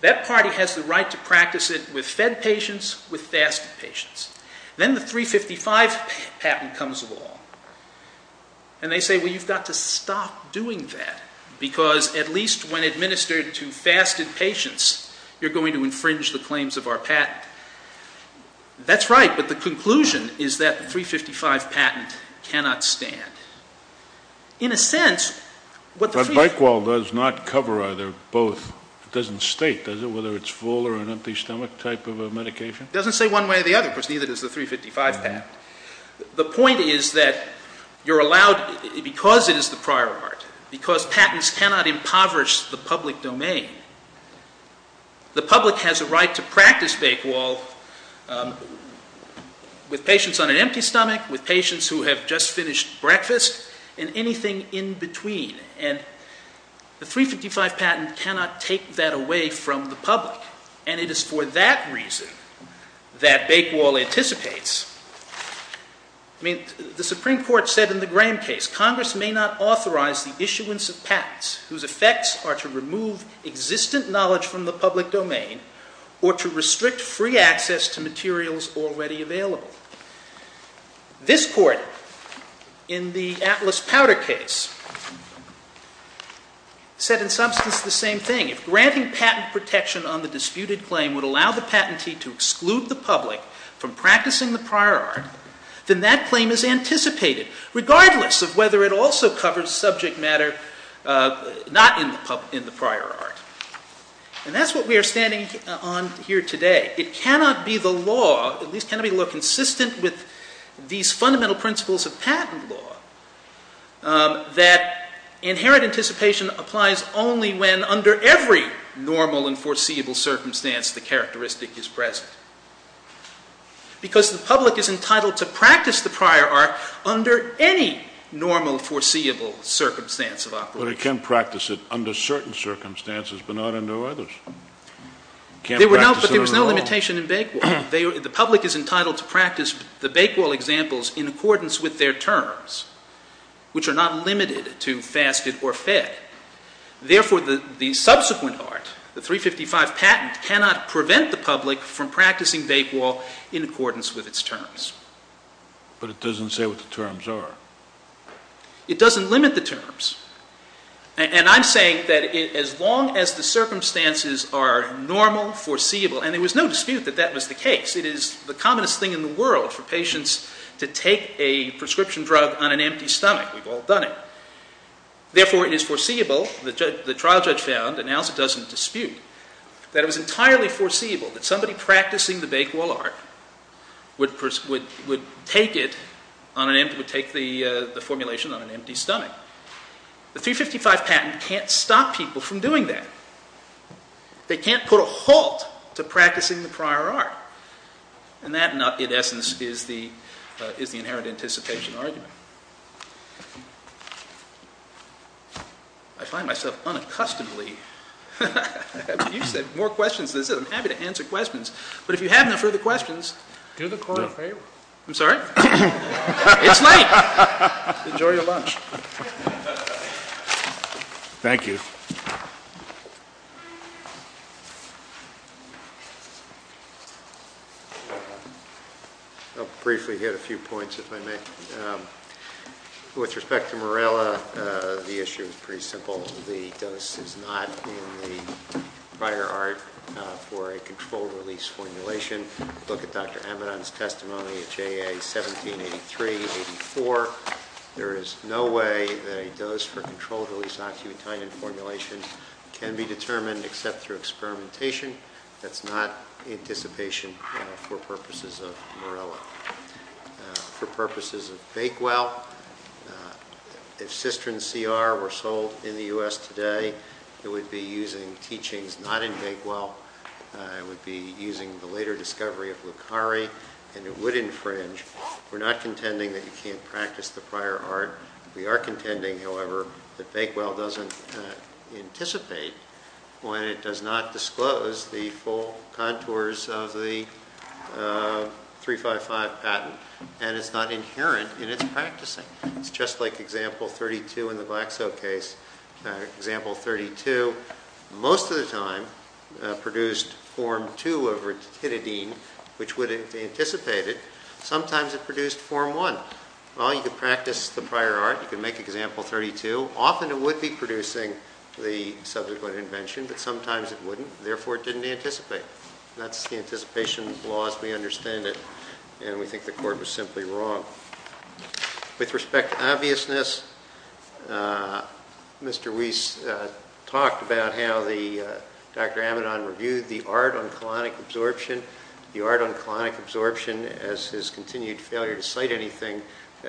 That party has the right to practice it with fed patients, with fasted patients. Then the 355 patent comes along, and they say, well, you've got to stop doing that because at least when administered to fasted patients, you're going to infringe the claims of our patent. That's right, but the conclusion is that the 355 patent cannot stand. In a sense, what the three... But Bakewell does not cover either or both. It doesn't state, does it, whether it's full or an empty stomach type of a medication? It doesn't say one way or the other because neither does the 355 patent. The point is that you're allowed, because it is the prior art, because patents cannot impoverish the public domain, the public has a right to practice Bakewell with patients on an empty stomach, with patients who have just finished breakfast, and anything in between. And the 355 patent cannot take that away from the public, and it is for that reason that Bakewell anticipates... I mean, the Supreme Court said in the Graham case, Congress may not authorize the issuance of patents whose effects are to remove existent knowledge from the public domain or to restrict free access to materials already available. This court, in the Atlas Powder case, said in substance the same thing. If granting patent protection on the disputed claim would allow the patentee to exclude the public from practicing the prior art, then that claim is anticipated, regardless of whether it also covers subject matter not in the prior art. And that's what we are standing on here today. It cannot be the law, at least cannot be the law consistent with these fundamental principles of patent law, that inherent anticipation applies only when, under every normal and foreseeable circumstance, the characteristic is present. Because the public is entitled to practice the prior art under any normal foreseeable circumstance of operation. But it can practice it under certain circumstances but not under others. It can't practice it under all. But there was no limitation in Bakewell. The public is entitled to practice the Bakewell examples in accordance with their terms, which are not limited to fasted or fed. Therefore, the subsequent art, the 355 patent, cannot prevent the public from practicing Bakewell in accordance with its terms. But it doesn't say what the terms are. It doesn't limit the terms. And I'm saying that as long as the circumstances are normal, foreseeable, and there was no dispute that that was the case. It is the commonest thing in the world for patients to take a prescription drug on an empty stomach. We've all done it. Therefore, it is foreseeable, the trial judge found, and now it doesn't dispute, that it was entirely foreseeable that somebody practicing the Bakewell art would take the formulation on an empty stomach. The 355 patent can't stop people from doing that. They can't put a halt to practicing the prior art. And that, in essence, is the inherent anticipation argument. I find myself unaccustomedly... You said more questions than this. I'm happy to answer questions. But if you have no further questions... Do the court a favor. I'm sorry? It's late. Enjoy your lunch. Thank you. I'll briefly hit a few points, if I may. With respect to Morella, the issue is pretty simple. The dose is not in the prior art for a controlled-release formulation. Look at Dr. Amidon's testimony at JA 1783-84. There is no way that a dose for controlled-release oxybutynin formulations can be determined except through experimentation. That's not anticipation for purposes of Morella. For purposes of Bakewell, if Cystrin CR were sold in the U.S. today, it would be using teachings not in Bakewell. It would be using the later discovery of Lucari, and it would infringe. We're not contending that you can't practice the prior art. We are contending, however, that Bakewell doesn't anticipate when it does not disclose the full contours of the 3-5-5 patent, and it's not inherent in its practicing. It's just like Example 32 in the black-soap case. Example 32 most of the time produced Form 2 of ritididine, which would have anticipated. Sometimes it produced Form 1. Well, you could practice the prior art. You could make Example 32. Often it would be producing the subsequent invention, but sometimes it wouldn't, therefore it didn't anticipate. That's the anticipation laws. We understand it, and we think the court was simply wrong. With respect to obviousness, Mr. Weiss talked about how Dr. Amidon reviewed the art on colonic absorption, the art on colonic absorption, as his continued failure to cite anything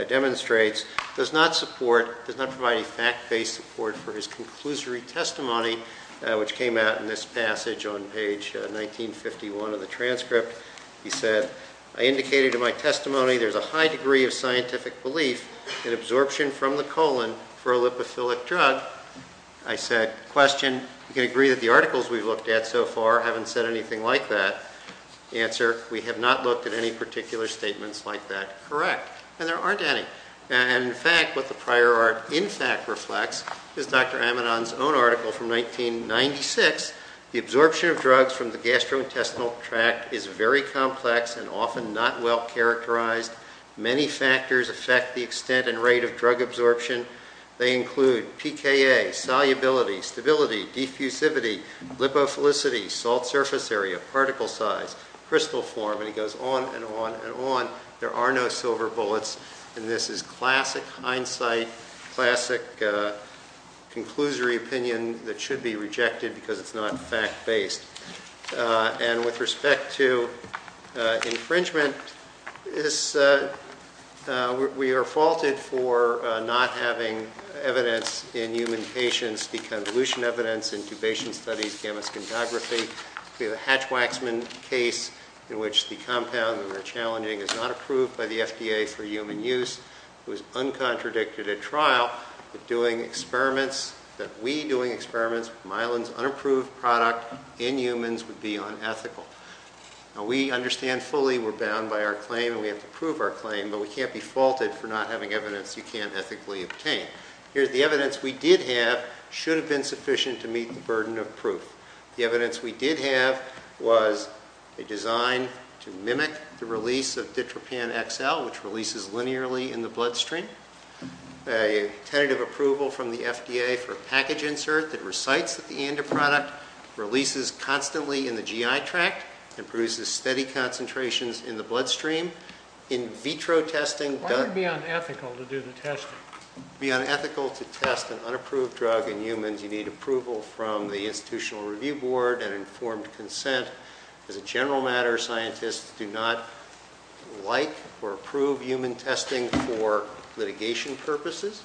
demonstrates, does not provide a fact-based support for his conclusory testimony, which came out in this passage on page 1951 of the transcript. He said, I indicated in my testimony there's a high degree of scientific belief in absorption from the colon for a lipophilic drug. I said, Question, you can agree that the articles we've looked at so far haven't said anything like that. Answer, we have not looked at any particular statements like that. Correct. And there aren't any. In fact, what the prior art in fact reflects is Dr. Amidon's own article from 1996. The absorption of drugs from the gastrointestinal tract is very complex and often not well characterized. Many factors affect the extent and rate of drug absorption. They include PKA, solubility, stability, diffusivity, lipophilicity, salt surface area, particle size, crystal form, and he goes on and on and on. There are no silver bullets. And this is classic hindsight, classic conclusory opinion that should be rejected because it's not fact-based. And with respect to infringement, we are faulted for not having evidence in human patients, such as the convolution evidence, intubation studies, gamma scintography. We have a Hatch-Waxman case in which the compound that we're challenging is not approved by the FDA for human use. It was uncontradicted at trial, but doing experiments, that we doing experiments with myelin's unapproved product in humans would be unethical. Now, we understand fully we're bound by our claim and we have to prove our claim, but we can't be faulted for not having evidence you can't ethically obtain. Here's the evidence we did have, should have been sufficient to meet the burden of proof. The evidence we did have was a design to mimic the release of Ditropan XL, which releases linearly in the bloodstream. A tentative approval from the FDA for a package insert that recites that the ANDA product releases constantly in the GI tract and produces steady concentrations in the bloodstream. In vitro testing... Why would it be unethical to do the testing? It would be unethical to test an unapproved drug in humans. You need approval from the Institutional Review Board and informed consent. As a general matter, scientists do not like or approve human testing for litigation purposes.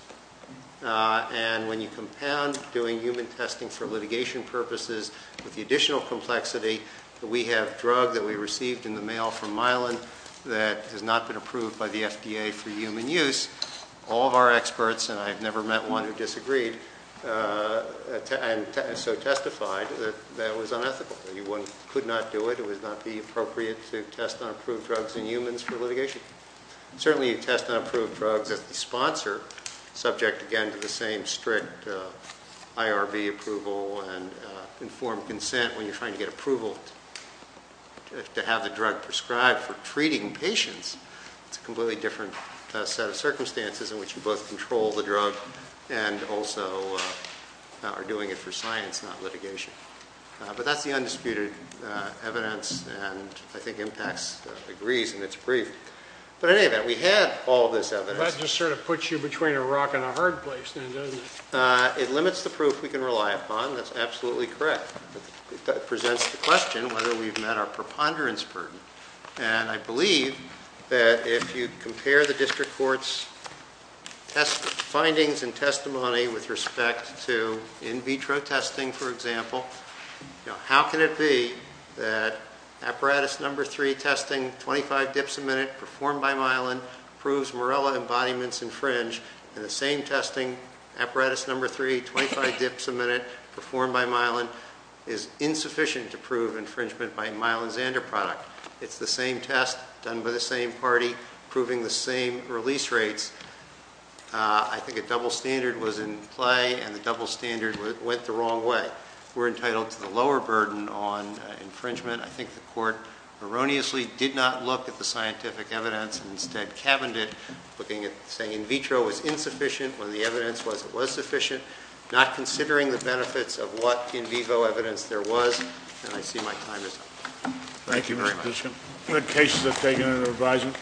And when you compound doing human testing for litigation purposes with the additional complexity that we have drug that we received in the mail from Milan that has not been approved by the FDA for human use, all of our experts, and I have never met one who disagreed, so testified that that was unethical. You could not do it. It would not be appropriate to test unapproved drugs in humans for litigation. Certainly you test unapproved drugs as the sponsor, subject again to the same strict IRB approval and informed consent when you're trying to get approval to have the drug prescribed for treating patients. It's a completely different set of circumstances in which you both control the drug and also are doing it for science, not litigation. But that's the undisputed evidence, and I think IMPAX agrees, and it's brief. But in any event, we had all this evidence. That just sort of puts you between a rock and a hard place then, doesn't it? It limits the proof we can rely upon. That's absolutely correct. It presents the question whether we've met our preponderance burden. And I believe that if you compare the district court's findings and testimony with respect to in vitro testing, for example, how can it be that apparatus number three testing, 25 dips a minute performed by Milan, proves Morella embodiments infringe and the same testing apparatus number three, 25 dips a minute performed by Milan, is insufficient to prove infringement by a Milan Xander product? It's the same test done by the same party proving the same release rates. I think a double standard was in play, and the double standard went the wrong way. We're entitled to the lower burden on infringement. I think the court erroneously did not look at the scientific evidence and instead cabined it looking at saying in vitro was insufficient. When the evidence was, it was sufficient. Not considering the benefits of what in vivo evidence there was. And I see my time is up. Thank you very much. Thank you, Mr. Bishop. Good cases have taken under advisement.